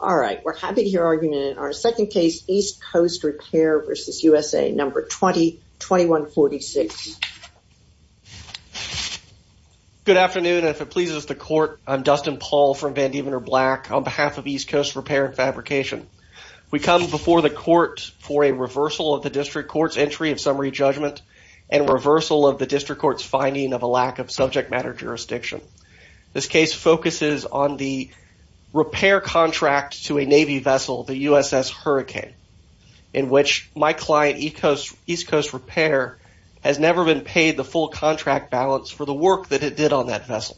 all right we're happy to hear argument in our second case East Coast Repair versus USA number 20 2146 good afternoon if it pleases the court I'm Dustin Paul from Van Diemen or black on behalf of East Coast Repair and Fabrication we come before the court for a reversal of the district courts entry of summary judgment and reversal of the district courts finding of a lack of subject matter jurisdiction this case focuses on the repair contract to a Navy vessel the USS Hurricane in which my client East Coast Repair has never been paid the full contract balance for the work that it did on that vessel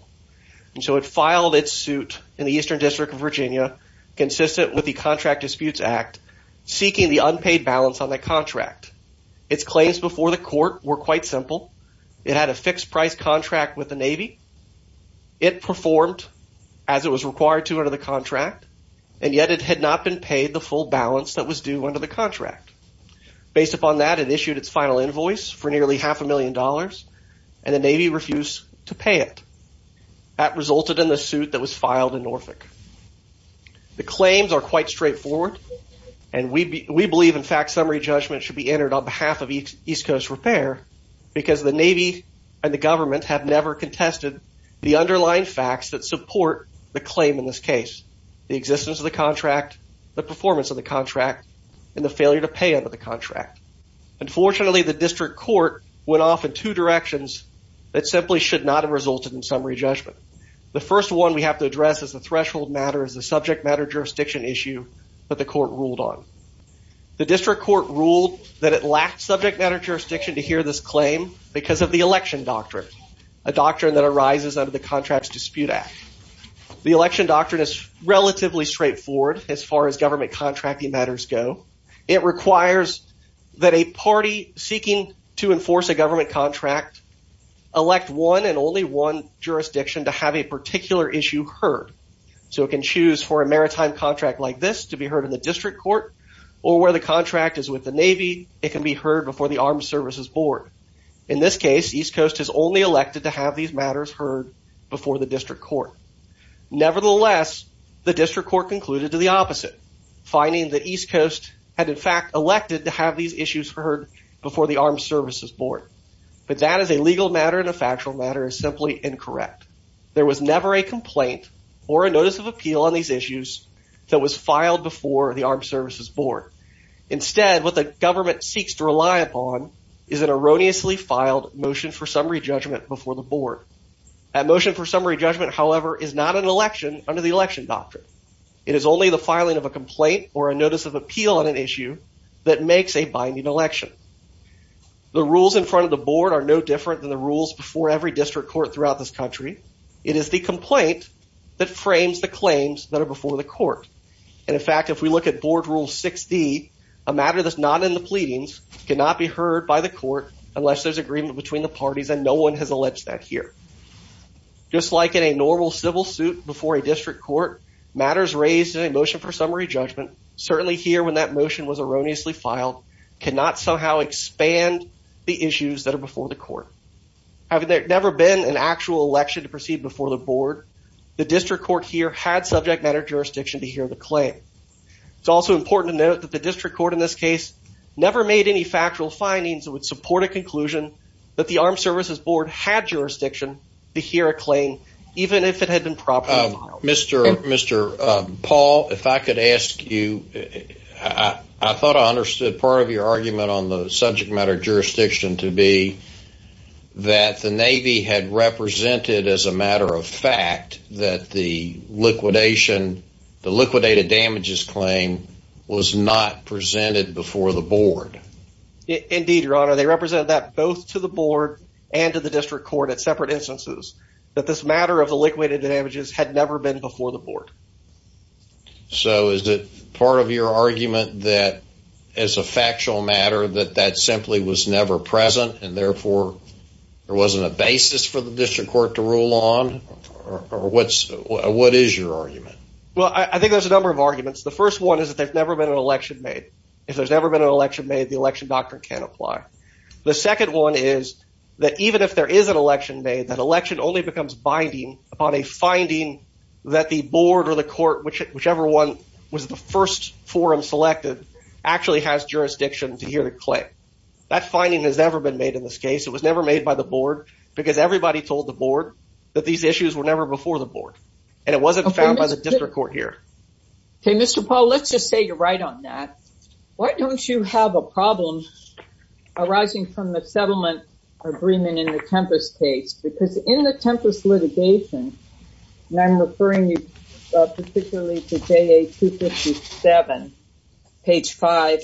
and so it filed its suit in the Eastern District of Virginia consistent with the Contract Disputes Act seeking the unpaid balance on the contract its claims before the court were quite simple it had a fixed price contract with the Navy it performed as it was required to under the contract and yet it had not been paid the full balance that was due under the contract based upon that it issued its final invoice for nearly half a million dollars and the Navy refused to pay it that resulted in the suit that was filed in Norfolk the claims are quite straightforward and we believe in fact summary judgment should be entered on behalf of each East Coast Repair because the Navy and the government have never contested the underlying facts that support the claim in this case the existence of the contract the performance of the contract and the failure to pay under the contract unfortunately the district court went off in two directions that simply should not have resulted in summary judgment the first one we have to address is the threshold matters the subject matter jurisdiction issue but the court ruled on the district court ruled that it lacked subject matter jurisdiction to hear this claim because of the election doctrine a doctrine that arises under the Contracts Dispute Act the election doctrine is relatively straightforward as far as government contracting matters go it requires that a party seeking to enforce a government contract elect one and only one jurisdiction to have a particular issue heard so it can choose for a maritime contract like this to be heard in the Navy it can be heard before the Armed Services Board in this case East Coast has only elected to have these matters heard before the district court nevertheless the district court concluded to the opposite finding that East Coast had in fact elected to have these issues heard before the Armed Services Board but that is a legal matter and a factual matter is simply incorrect there was never a complaint or a notice of appeal on these issues that was filed before the Armed Services Board instead what the government seeks to rely upon is an erroneously filed motion for summary judgment before the board a motion for summary judgment however is not an election under the election doctrine it is only the filing of a complaint or a notice of appeal on an issue that makes a binding election the rules in front of the board are no different than the rules before every district court throughout this country it is the complaint that frames the claims that are before the court and in fact if we look at board rule 60 a matter that's not in the pleadings cannot be heard by the court unless there's agreement between the parties and no one has alleged that here just like in a normal civil suit before a district court matters raised in a motion for summary judgment certainly here when that motion was erroneously filed cannot somehow expand the issues that are before the court have there never been an actual election to proceed before the board the district court here had subject matter jurisdiction to hear the claim it's also important to note that the district court in this case never made any factual findings that would support a conclusion that the Armed Services Board had jurisdiction to hear a claim even if it had been proper mr. mr. Paul if I could ask you I thought I understood part of your argument on the that the Navy had represented as a matter of fact that the liquidation the liquidated damages claim was not presented before the board indeed your honor they represented that both to the board and to the district court at separate instances that this matter of the liquidated damages had never been before the board so is it part of your argument that as a factual matter that that simply was never present and therefore there wasn't a basis for the district court to rule on or what's what is your argument well I think there's a number of arguments the first one is that they've never been an election made if there's ever been an election made the election doctrine can apply the second one is that even if there is an election made that election only becomes binding upon a finding that the board or the court which whichever one was the forum selected actually has jurisdiction to hear the claim that finding has never been made in this case it was never made by the board because everybody told the board that these issues were never before the board and it wasn't found by the district court here okay mr. Paul let's just say you're right on that why don't you have a problem arising from the settlement agreement in the tempest case because in the tempest litigation and I'm referring you particularly today a 257 page 5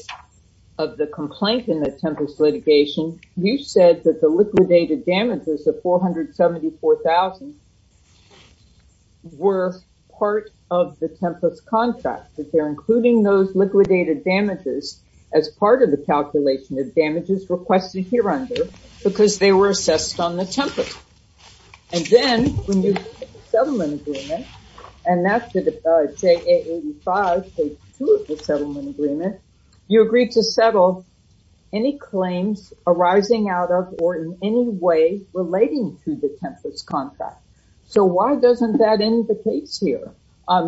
of the complaint in the tempest litigation you said that the liquidated damages of four hundred seventy four thousand were part of the tempest contract that they're including those liquidated damages as part of the calculation of damages requested here under because they were assessed on the template and then when you settle in agreement and that's the j85 settlement agreement you agreed to settle any claims arising out of or in any way relating to the tempest contract so why doesn't that in the case here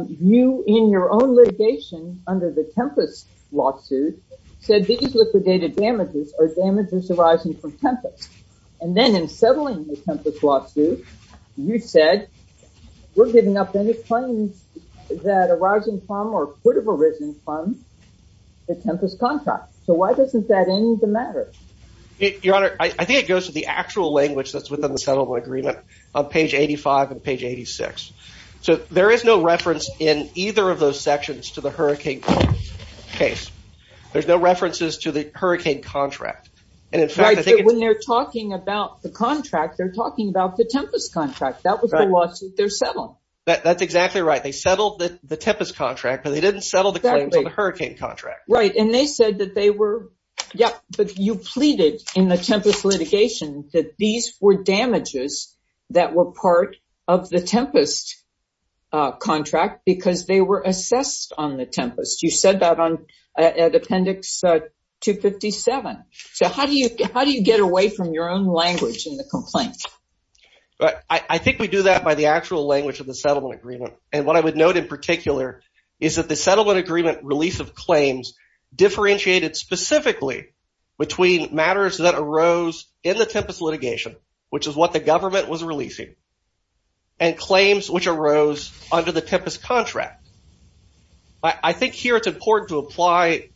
you in your own litigation under the tempest lawsuit said these liquidated damages are damages arising from tempest and then in settling the tempest lawsuit you said we're giving up any claims that arising from or could have arisen from the tempest contract so why doesn't that in the matter your honor I think it goes to the actual language that's within the settlement agreement on page 85 and page 86 so there is no reference in either of those sections to the hurricane case there's no references to the hurricane contract and in fact I think when they're talking about the contract they're talking about the tempest contract that was a lawsuit they're selling that that's exactly right they settled that the tempest contract but they didn't settle the hurricane contract right and they said that they were yeah but you pleaded in the tempest litigation that these were damages that were part of the tempest contract because they were assessed on the tempest you said that on an appendix 257 so how do you how do you get away from your own language in the complaint but I think we do that by the actual language of the settlement agreement and what I would note in particular is that the settlement agreement release of claims differentiated specifically between matters that arose in the tempest litigation which is what the government was releasing and claims which arose under the tempest contract I think here it's important to apply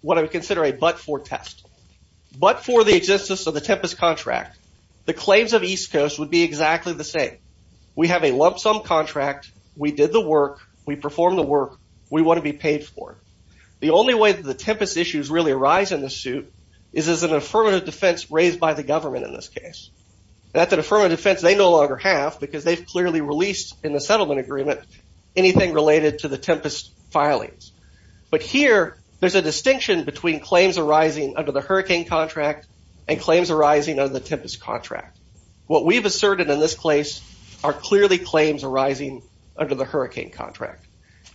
what I would consider a but for test but for the existence of the tempest contract the claims of East Coast would be exactly the same we have a lump-sum contract we did the work we perform the work we want to be paid for the only way that the tempest issues really arise in the suit is as an affirmative defense raised by the government in this case that's an affirmative defense they no longer have because they've clearly released in the settlement agreement anything related to the tempest filings but here there's a distinction between claims arising under the hurricane contract and claims arising of the tempest contract what we've asserted in this place are clearly claims arising under the hurricane contract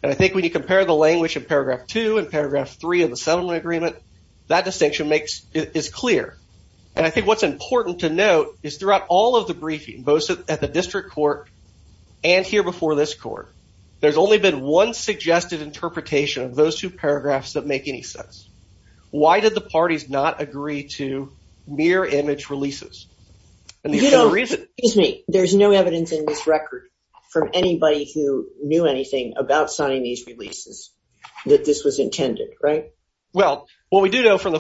and I think when you compare the language of paragraph 2 and paragraph 3 of the settlement agreement that distinction makes it is clear and I think what's important to note is throughout all of the briefing both at the district court and here before this court there's only been one suggested interpretation of those two paragraphs that make any sense why did the parties not agree to mirror image releases and you don't reason is me there's no evidence in this record from anybody who knew anything about signing these releases that this was intended right well what we do know from the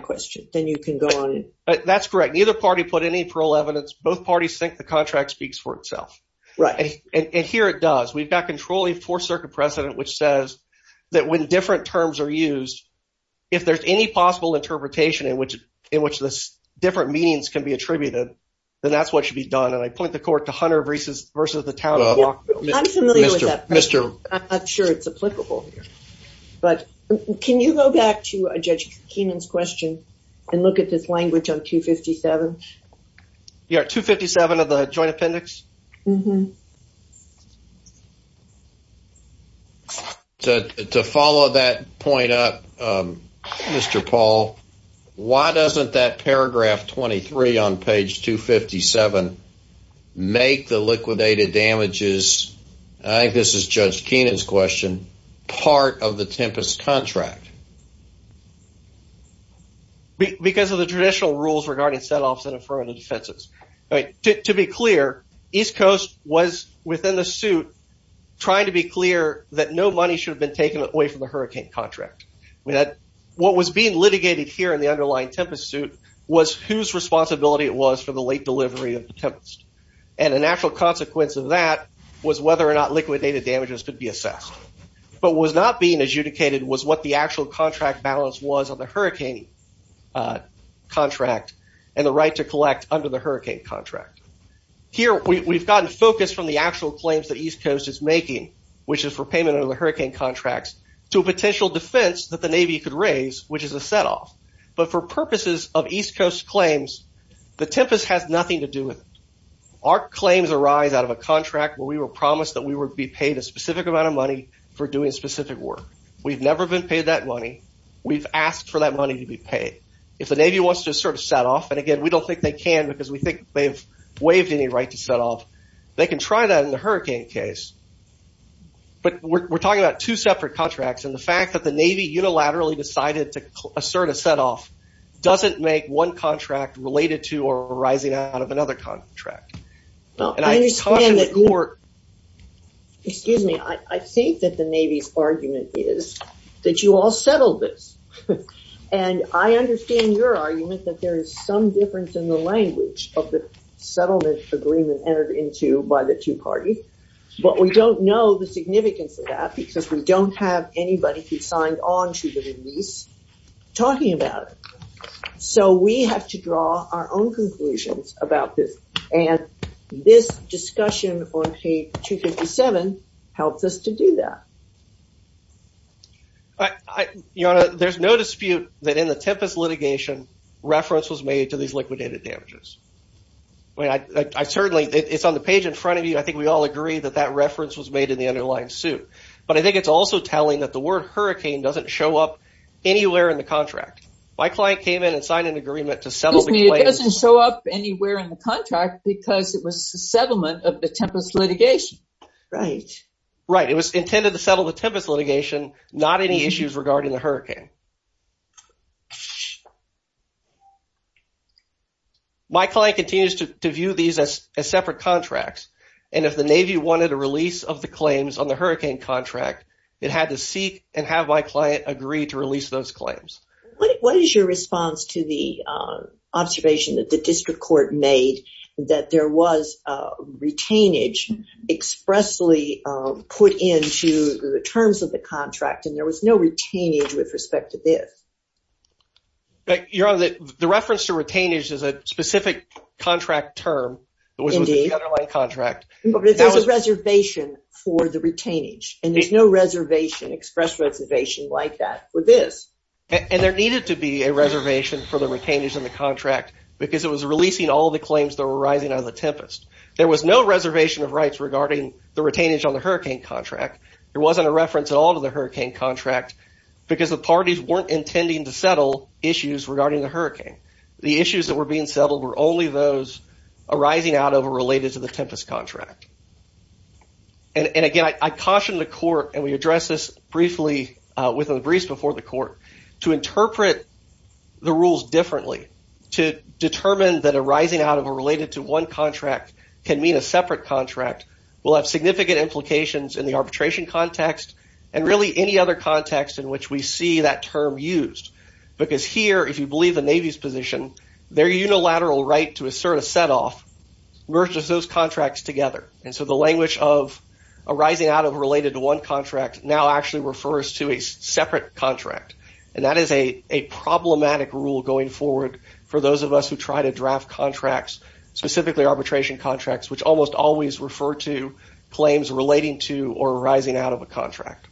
question then you can go on that's correct either party put any parole evidence both parties think the contract speaks for itself right and here it does we've got controlling for circuit precedent which says that when different terms are used if there's any possible interpretation in which in which this different meanings can be attributed then that's what should be done and I point the court to hunter versus versus the town of mr. mr. I'm not sure it's question and look at this language on 257 yeah 257 of the Joint Appendix to follow that point up mr. Paul why doesn't that paragraph 23 on page 257 make the liquidated damages I think this is judge Kenan's question part of the because of the traditional rules regarding setoffs and affirmative defenses right to be clear East Coast was within the suit trying to be clear that no money should have been taken away from the hurricane contract we had what was being litigated here in the underlying tempest suit was whose responsibility it was for the late delivery of the tempest and a natural consequence of that was whether or not liquidated damages could be assessed but was not being adjudicated was what the actual contract balance was on the hurricane contract and the right to collect under the hurricane contract here we've gotten focused from the actual claims that East Coast is making which is for payment of the hurricane contracts to a potential defense that the Navy could raise which is a setoff but for purposes of East Coast claims the tempest has nothing to do with our claims arise out of a contract where we were promised that we would be paid a specific amount of money for doing specific work we've never been paid that money we've asked for that money to be paid if the Navy wants to sort of set off and again we don't think they can because we think they've waived any right to set off they can try that in the hurricane case but we're talking about two separate contracts and the fact that the Navy unilaterally decided to assert a setoff doesn't make one contract related to or arising out of another contract well and I understand excuse me I think that the Navy's argument is that you all settled this and I understand your argument that there is some difference in the language of the settlement agreement entered into by the two parties but we don't know the significance of that because we don't have anybody who signed on to the release talking about it so we have to draw our own conclusions about this and this discussion on page 257 helps us to do that I you know there's no dispute that in the Tempest litigation reference was made to these liquidated damages when I certainly it's on the page in front of you I think we all agree that that reference was made in the underlying suit but I think it's also telling that the word hurricane doesn't show up anywhere in the contract my client came in and signed an agreement to settle me it doesn't show up anywhere in the contract because it was the settlement of the Tempest litigation right right it was intended to settle the Tempest litigation not any issues regarding the hurricane my client continues to view these as separate contracts and if the Navy wanted a release of the claims on the hurricane contract it had to seek and have my client agree to release those claims what is your response to the observation that the district court made that there was retainage expressly put into the terms of the contract and there was no retainage with respect to this but you're on the reference to retain age is a specific contract term contract reservation for the retainage and there's needed to be a reservation for the retainers in the contract because it was releasing all the claims that were rising out of the Tempest there was no reservation of rights regarding the retainage on the hurricane contract it wasn't a reference at all to the hurricane contract because the parties weren't intending to settle issues regarding the hurricane the issues that were being settled were only those arising out of a related to the Tempest contract and again I caution the court and we address this briefly with a before the court to interpret the rules differently to determine that a rising out of a related to one contract can mean a separate contract will have significant implications in the arbitration context and really any other context in which we see that term used because here if you believe the Navy's position their unilateral right to assert a set off versus those contracts together and so the language of arising out of related to one contract now actually refers to a separate contract and that is a a problematic rule going forward for those of us who try to draft contracts specifically arbitration contracts which almost always refer to claims relating to or rising out of a contract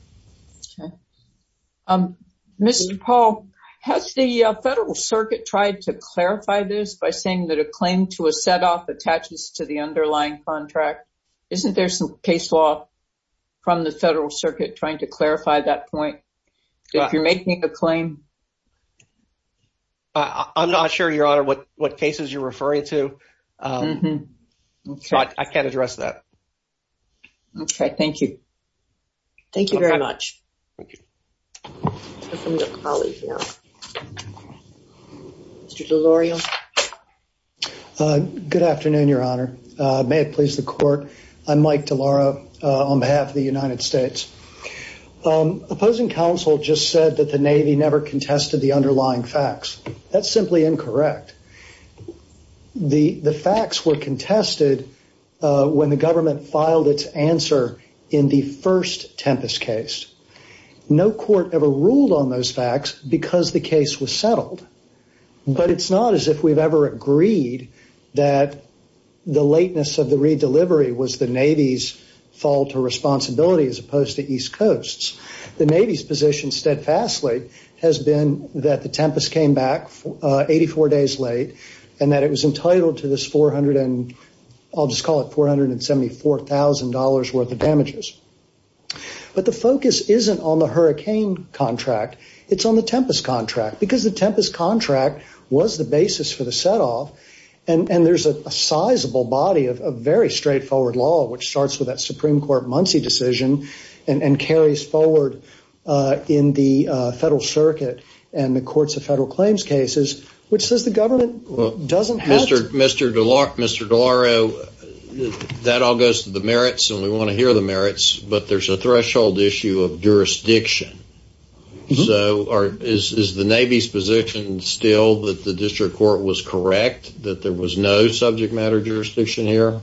um mr. Paul has the Federal Circuit tried to clarify this by saying that a claim to a set off attaches to the underlying contract isn't there some case law from the Federal Circuit trying to clarify that point if you're making a claim I'm not sure your honor what what cases you're referring to mm-hmm okay I can't address that okay thank you thank you very much good afternoon your honor may it please the court I'm Mike DeLauro on behalf of the United States opposing counsel just said that the Navy never contested the underlying facts that's simply incorrect the the facts were contested when the court ever ruled on those facts because the case was settled but it's not as if we've ever agreed that the lateness of the redelivery was the Navy's fault or responsibility as opposed to East Coast's the Navy's position steadfastly has been that the tempest came back 84 days late and that it was entitled to this 400 and I'll just call it four hundred and seventy four thousand dollars worth of damages but the focus isn't on the hurricane contract it's on the tempest contract because the tempest contract was the basis for the set off and and there's a sizable body of a very straightforward law which starts with that Supreme Court Muncie decision and and carries forward in the Federal Circuit and the courts of federal claims cases which says the government doesn't Mr. DeLauro that all goes to the merits and we want to hear the merits but there's a threshold issue of jurisdiction so is the Navy's position still that the district court was correct that there was no subject matter jurisdiction here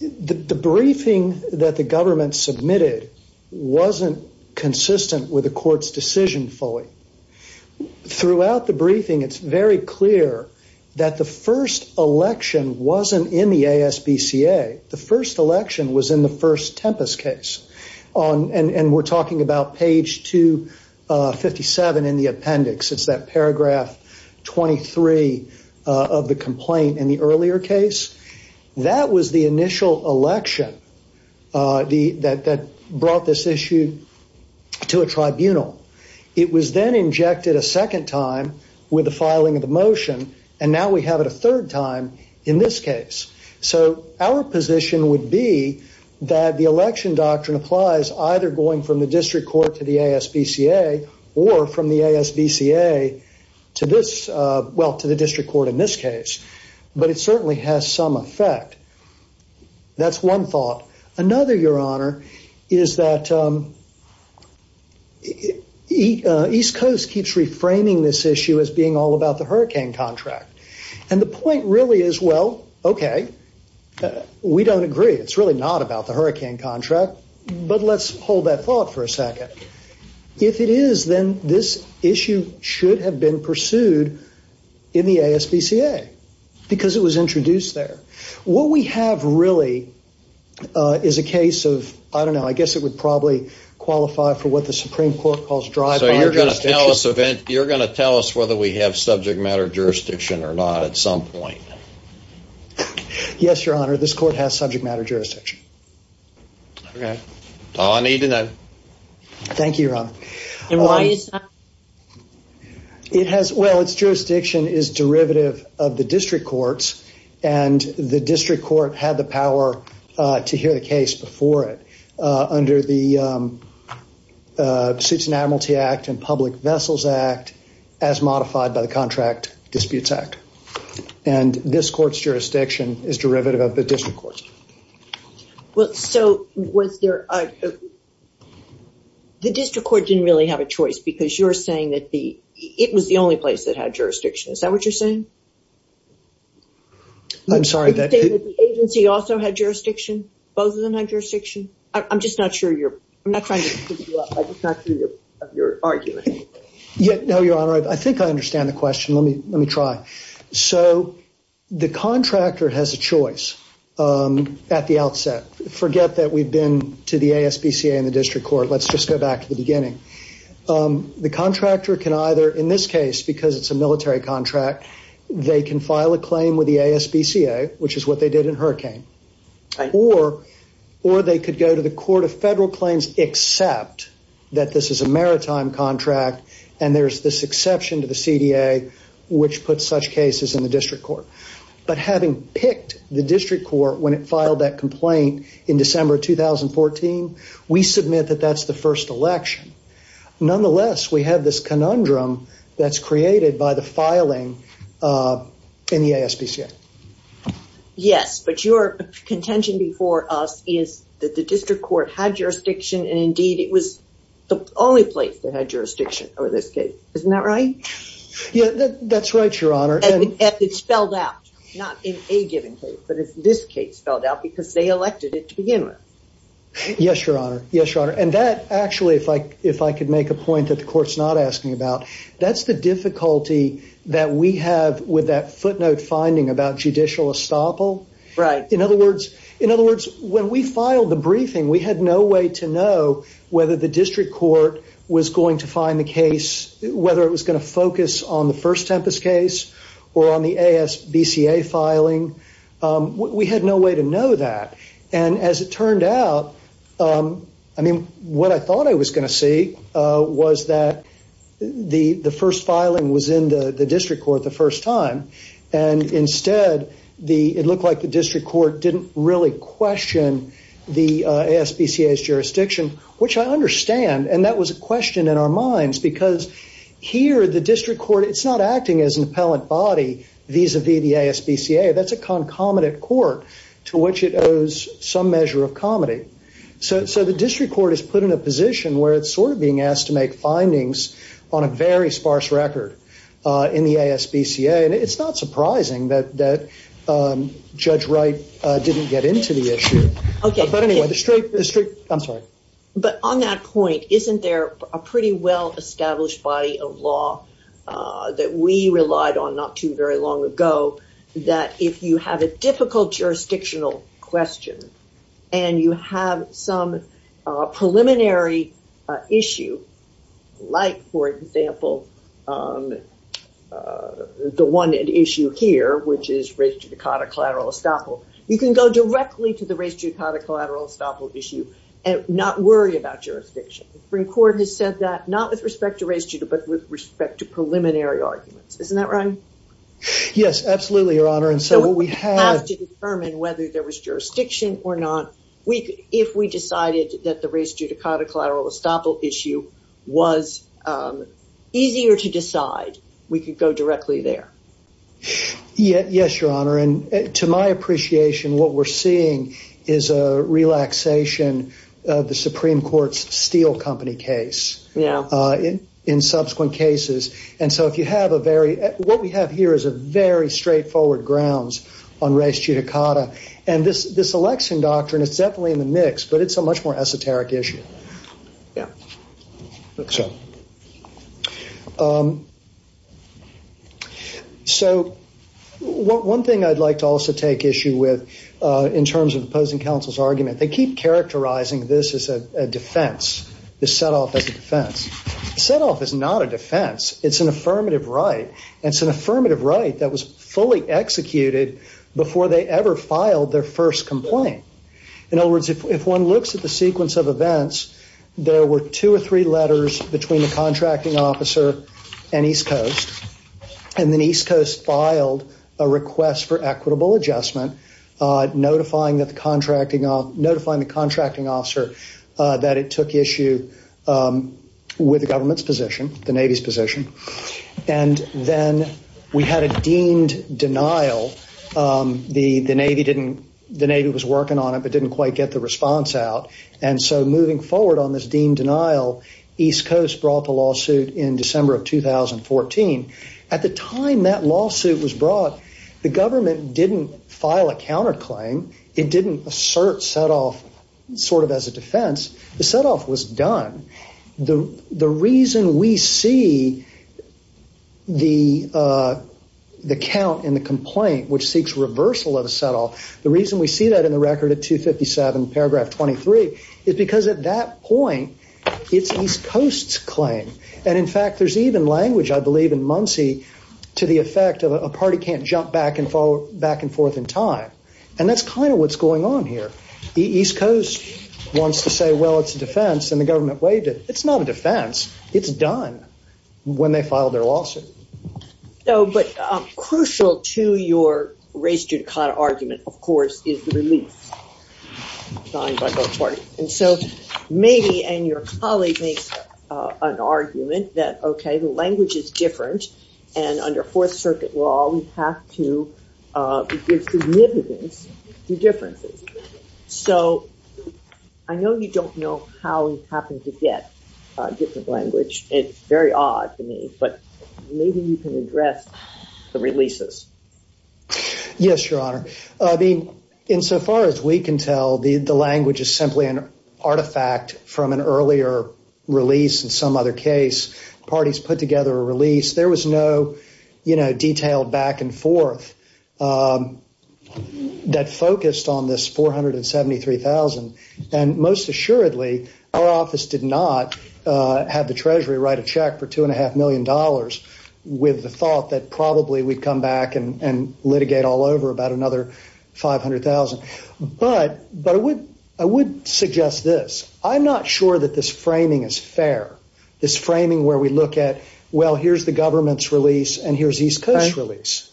the briefing that the government submitted wasn't consistent with the court's decision fully throughout the briefing it's very clear that the first election wasn't in the ASBCA the first election was in the first tempest case on and and we're talking about page 257 in the appendix it's that paragraph 23 of the complaint in the earlier case that was the initial election that brought this issue to a tribunal it was then injected a second time with the filing of the motion and now we have it a third time in this case so our position would be that the election doctrine applies either going from the district court to the ASBCA or from the ASBCA to this well to the that's one thought another your honor is that East Coast keeps reframing this issue as being all about the hurricane contract and the point really is well okay we don't agree it's really not about the hurricane contract but let's hold that thought for a second if it is then this issue should have been pursued in the ASBCA because it was introduced there what we have really is a case of I don't know I guess it would probably qualify for what the Supreme Court calls drive so you're gonna tell us event you're gonna tell us whether we have subject matter jurisdiction or not at some point yes your honor this court has jurisdiction is derivative of the district courts and the district court had the power to hear the case before it under the suits and Admiralty Act and public vessels act as modified by the Contract Disputes Act and this court's jurisdiction is derivative of the district courts well so was there the district court didn't really have a choice because you're saying that the it was the only place that had jurisdiction is that what you're saying I'm sorry that agency also had jurisdiction both of them had jurisdiction I'm just not sure you're I'm not trying to your argument yet no your honor I think I understand the question let me let me try so the contractor has a choice at the outset forget that we've been to the ASBCA in the district court let's just go back to the beginning the contractor can either in this case because it's a military contract they can file a claim with the ASBCA which is what they did in hurricane or or they could go to the court of federal claims except that this is a maritime contract and there's this exception to the CDA which puts such cases in the district court but having picked the district court when it filed that complaint in December 2014 we submit that that's the first election nonetheless we have this conundrum that's created by the filing in the ASBCA yes but your contention before us is that the district court had jurisdiction and indeed it was the only place that had jurisdiction over this case isn't that right yeah that's right your honor and it's spelled out not in a given case but it's this case spelled out because they elected it to begin with yes your honor yes your honor and that actually if I if I could make a point that the courts not asking about that's the difficulty that we have with that footnote finding about judicial estoppel right in other words in other words when we filed the briefing we had no way to know whether the district court was going to find the case whether it was going to focus on the first tempest case or on the ASBCA filing we had no way to know that and as it turned out I mean what I thought I was going to see was that the the first filing was in the the district court the first time and instead the it looked like the district court didn't really question the ASBCA's jurisdiction which I understand and that was a question in our minds because here the district court it's not acting as an appellant body vis-a-vis the ASBCA that's a concomitant court to which it owes some measure of comedy so the district court is put in a position where it's sort of being asked to make findings on a very sparse record in the ASBCA and it's not surprising that that judge Wright didn't get into the issue okay but anyway the straight district I'm sorry but on that point isn't there a pretty well established body of law that we relied on not too very long ago that if you have a difficult jurisdictional question and you have some preliminary issue like for example the one at issue here which is race to Dakota collateral estoppel you can go directly to the race to Dakota collateral estoppel issue and not worry about jurisdiction bring court has said that not with respect to race Judah but with respect to preliminary arguments isn't that right yes absolutely your honor and so what we have to determine whether there was jurisdiction or not we could if we decided that the race to Dakota collateral estoppel issue was easier to decide we could go directly there yet yes your honor and to my appreciation what we're seeing is a relaxation of the Supreme Court's steel company case yeah in in subsequent cases and so if you have a very what we have here is a very straightforward grounds on race to Dakota and this this election doctrine is definitely in the mix but it's a much more esoteric issue yeah so one thing I'd like to also take issue with in defense the set-off as a defense set-off is not a defense it's an affirmative right and it's an affirmative right that was fully executed before they ever filed their first complaint in other words if one looks at the sequence of events there were two or three letters between the contracting officer and East Coast and then East Coast filed a request for equitable adjustment notifying that the contracting off notifying the that it took issue with the government's position the Navy's position and then we had a deemed denial the the Navy didn't the Navy was working on it but didn't quite get the response out and so moving forward on this deemed denial East Coast brought the lawsuit in December of 2014 at the time that lawsuit was brought the government didn't file a counterclaim it didn't assert set-off sort of as a defense the set-off was done the the reason we see the the count in the complaint which seeks reversal of a settle the reason we see that in the record at 257 paragraph 23 is because at that point it's East Coast's claim and in fact there's even language I believe in Muncie to the effect of a party can't jump back and forth back and forth in time and that's kind of what's going on here the East Coast wants to say well it's a defense and the government waived it it's not a defense it's done when they filed their lawsuit so but crucial to your race judicata argument of course is the relief and so maybe and your colleague makes an argument that okay language is different and under Fourth Circuit law we have to differences so I know you don't know how you happen to get different language it's very odd to me but maybe you can address the releases yes your honor I mean in so far as we can tell the the language is simply an artifact from an earlier release in some other case parties put together a release there was no you know detailed back and forth that focused on this 473,000 and most assuredly office did not have the Treasury write a check for two and a half million dollars with the thought that probably we come back and litigate all over about another 500,000 but I would suggest this I'm not sure that this framing is fair this framing where we look at well here's the government's release and here's East Coast release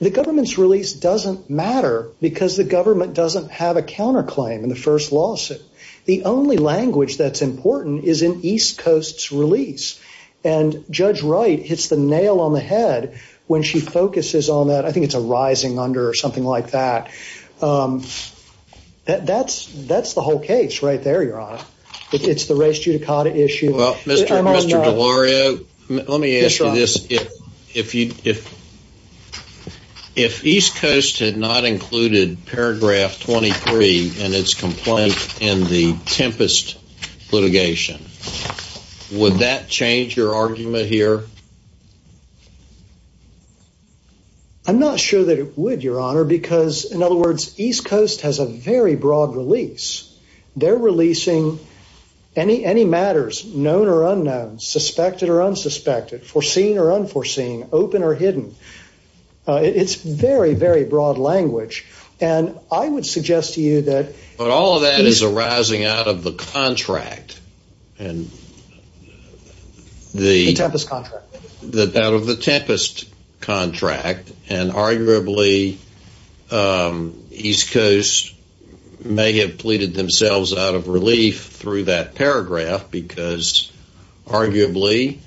the government's release doesn't matter because the government doesn't have a counterclaim in the first lawsuit the only language that's important is in East Coast's release and Judge Wright hits the nail on the head when she focuses on that I think it's a rising under something like that that that's that's the whole case right there your honor it's the race judicata issue well mr. Mr. Delario let me answer this if if you if if East Coast had not included paragraph 23 and its complaint in the tempest litigation would that change your argument here I'm not sure that it would your honor because in other words East Coast has a very broad release they're releasing any any matters known or unknown suspected or unsuspected foreseen or unforeseen open or hidden it's very very broad language and I would suggest to you that but all the tempest contract that out of the tempest contract and arguably East Coast may have pleaded themselves out of relief through that paragraph because arguably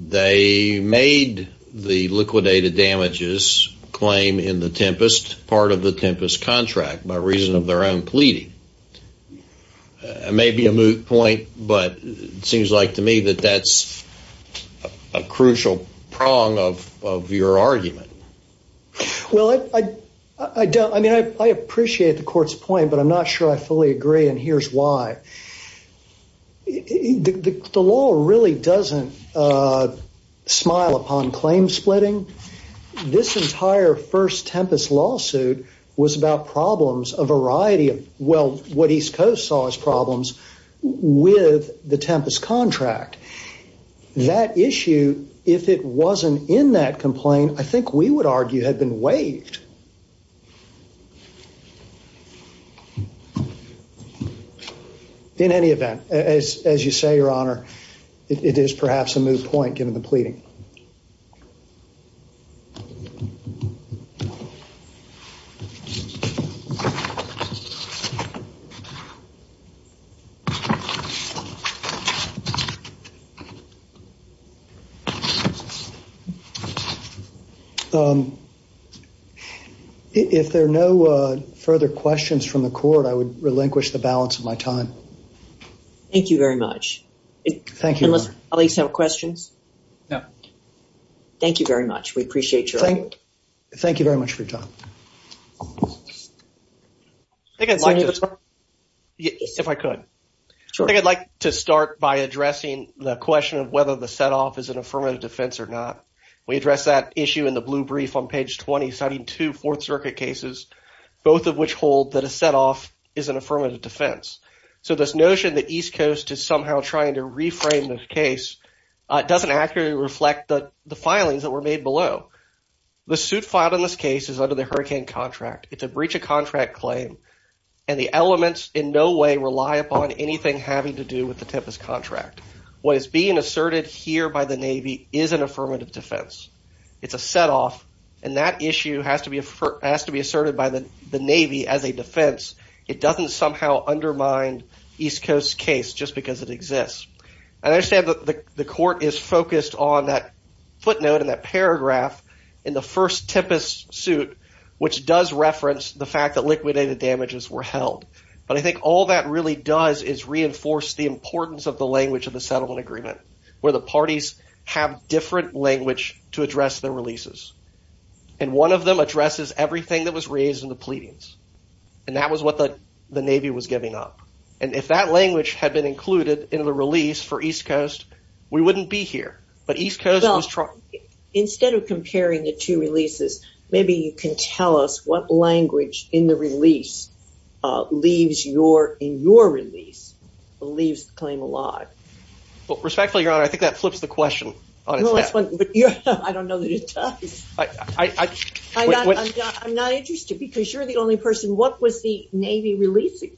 they made the liquidated damages claim in the tempest part of the tempest contract by reason of their own pleading it may be a moot point but it to me that that's a crucial prong of your argument well I I don't I mean I appreciate the court's point but I'm not sure I fully agree and here's why the law really doesn't smile upon claim splitting this entire first tempest lawsuit was about problems a variety of well what East Coast saw as problems with the tempest contract that issue if it wasn't in that complaint I think we would argue had been waived in any event as you say your honor it is perhaps a if there are no further questions from the court I would relinquish the balance of my time thank you very much thank you unless at least have questions no thank you very much we appreciate your thank thank you very much for your time if I could so I think I'd like to start by addressing the question of whether the setoff is an affirmative defense or not we address that issue in the blue brief on page 20 citing two Fourth Circuit cases both of which hold that a setoff is an affirmative defense so this notion that East Coast is somehow trying to the suit filed in this case is under the hurricane contract it's a breach of contract claim and the elements in no way rely upon anything having to do with the tempest contract what is being asserted here by the Navy is an affirmative defense it's a setoff and that issue has to be asserted by the Navy as a defense it doesn't somehow undermine East Coast case just because it exists I understand that the court is focused on that footnote in that paragraph in the first tempest suit which does reference the fact that liquidated damages were held but I think all that really does is reinforce the importance of the language of the settlement agreement where the parties have different language to address their releases and one of them addresses everything that was raised in the pleadings and that was what the the Navy was giving up and if that language had been included in the release for East instead of comparing the two releases maybe you can tell us what language in the release leaves your in your release leaves claim alive well respectfully your honor I think that flips the question I'm not interested because you're the only person what was the Navy releasing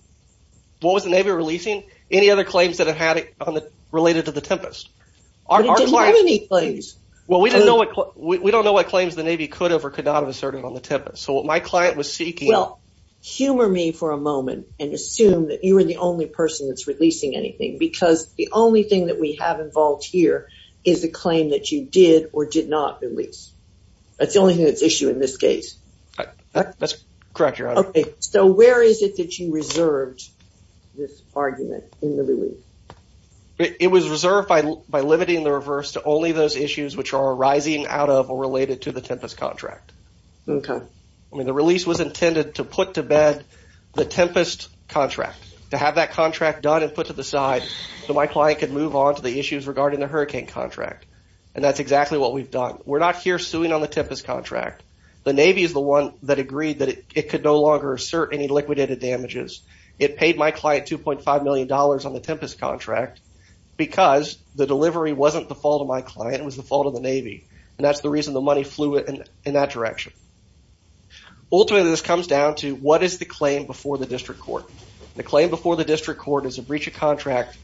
what was the Navy releasing any other claims that have had it on the related to the tempest well we didn't know what we don't know what claims the Navy could have or could not have asserted on the tip so what my client was seeking well humor me for a moment and assume that you were the only person that's releasing anything because the only thing that we have involved here is the claim that you did or did not release that's the only thing that's issue in this case that's correct okay so where is it that you reserved this argument it was reserved by by limiting the reverse to only those issues which are arising out of or related to the tempest contract okay I mean the release was intended to put to bed the tempest contract to have that contract done and put to the side so my client could move on to the issues regarding the hurricane contract and that's exactly what we've done we're not here suing on the tempest contract the Navy is the one that agreed that it could no longer assert any liquidated damages it paid my client 2.5 million dollars on the tempest contract because the delivery wasn't the fault of my client was the fault of the Navy and that's the reason the money flew it and in that direction ultimately this comes down to what is the claim before the district court the claim before the district court is a breach of contract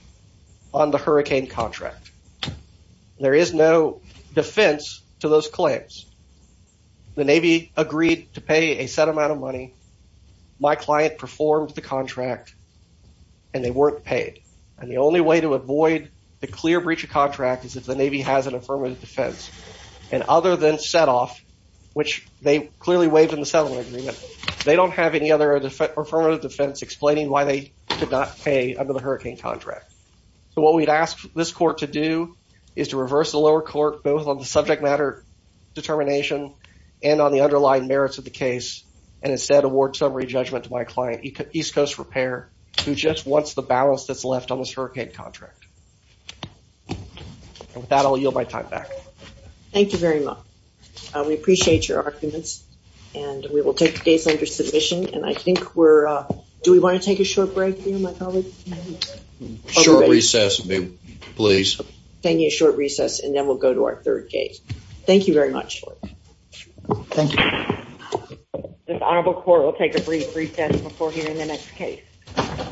on the hurricane contract there is no defense to those claims the Navy agreed to pay a set amount of money my client performed the contract and they weren't paid and the only way to avoid the clear breach of contract is if the Navy has an affirmative defense and other than set off which they clearly waived in the settlement agreement they don't have any other affirmative defense explaining why they did not pay under the hurricane contract so what we'd ask this court to do is to reverse the lower court both on the subject matter determination and on the underlying merits of the case and instead award summary judgment to my client East Coast Repair who just wants the balance that's left on this hurricane contract. With that I'll yield my time back. Thank you very much we appreciate your arguments and we will take the case under submission and I think we're do we want to take a short break? Short recess please. Thank you short recess and then we'll go to our third case. Thank you very much. Thank you. This honorable court will take a brief recess before hearing the next case.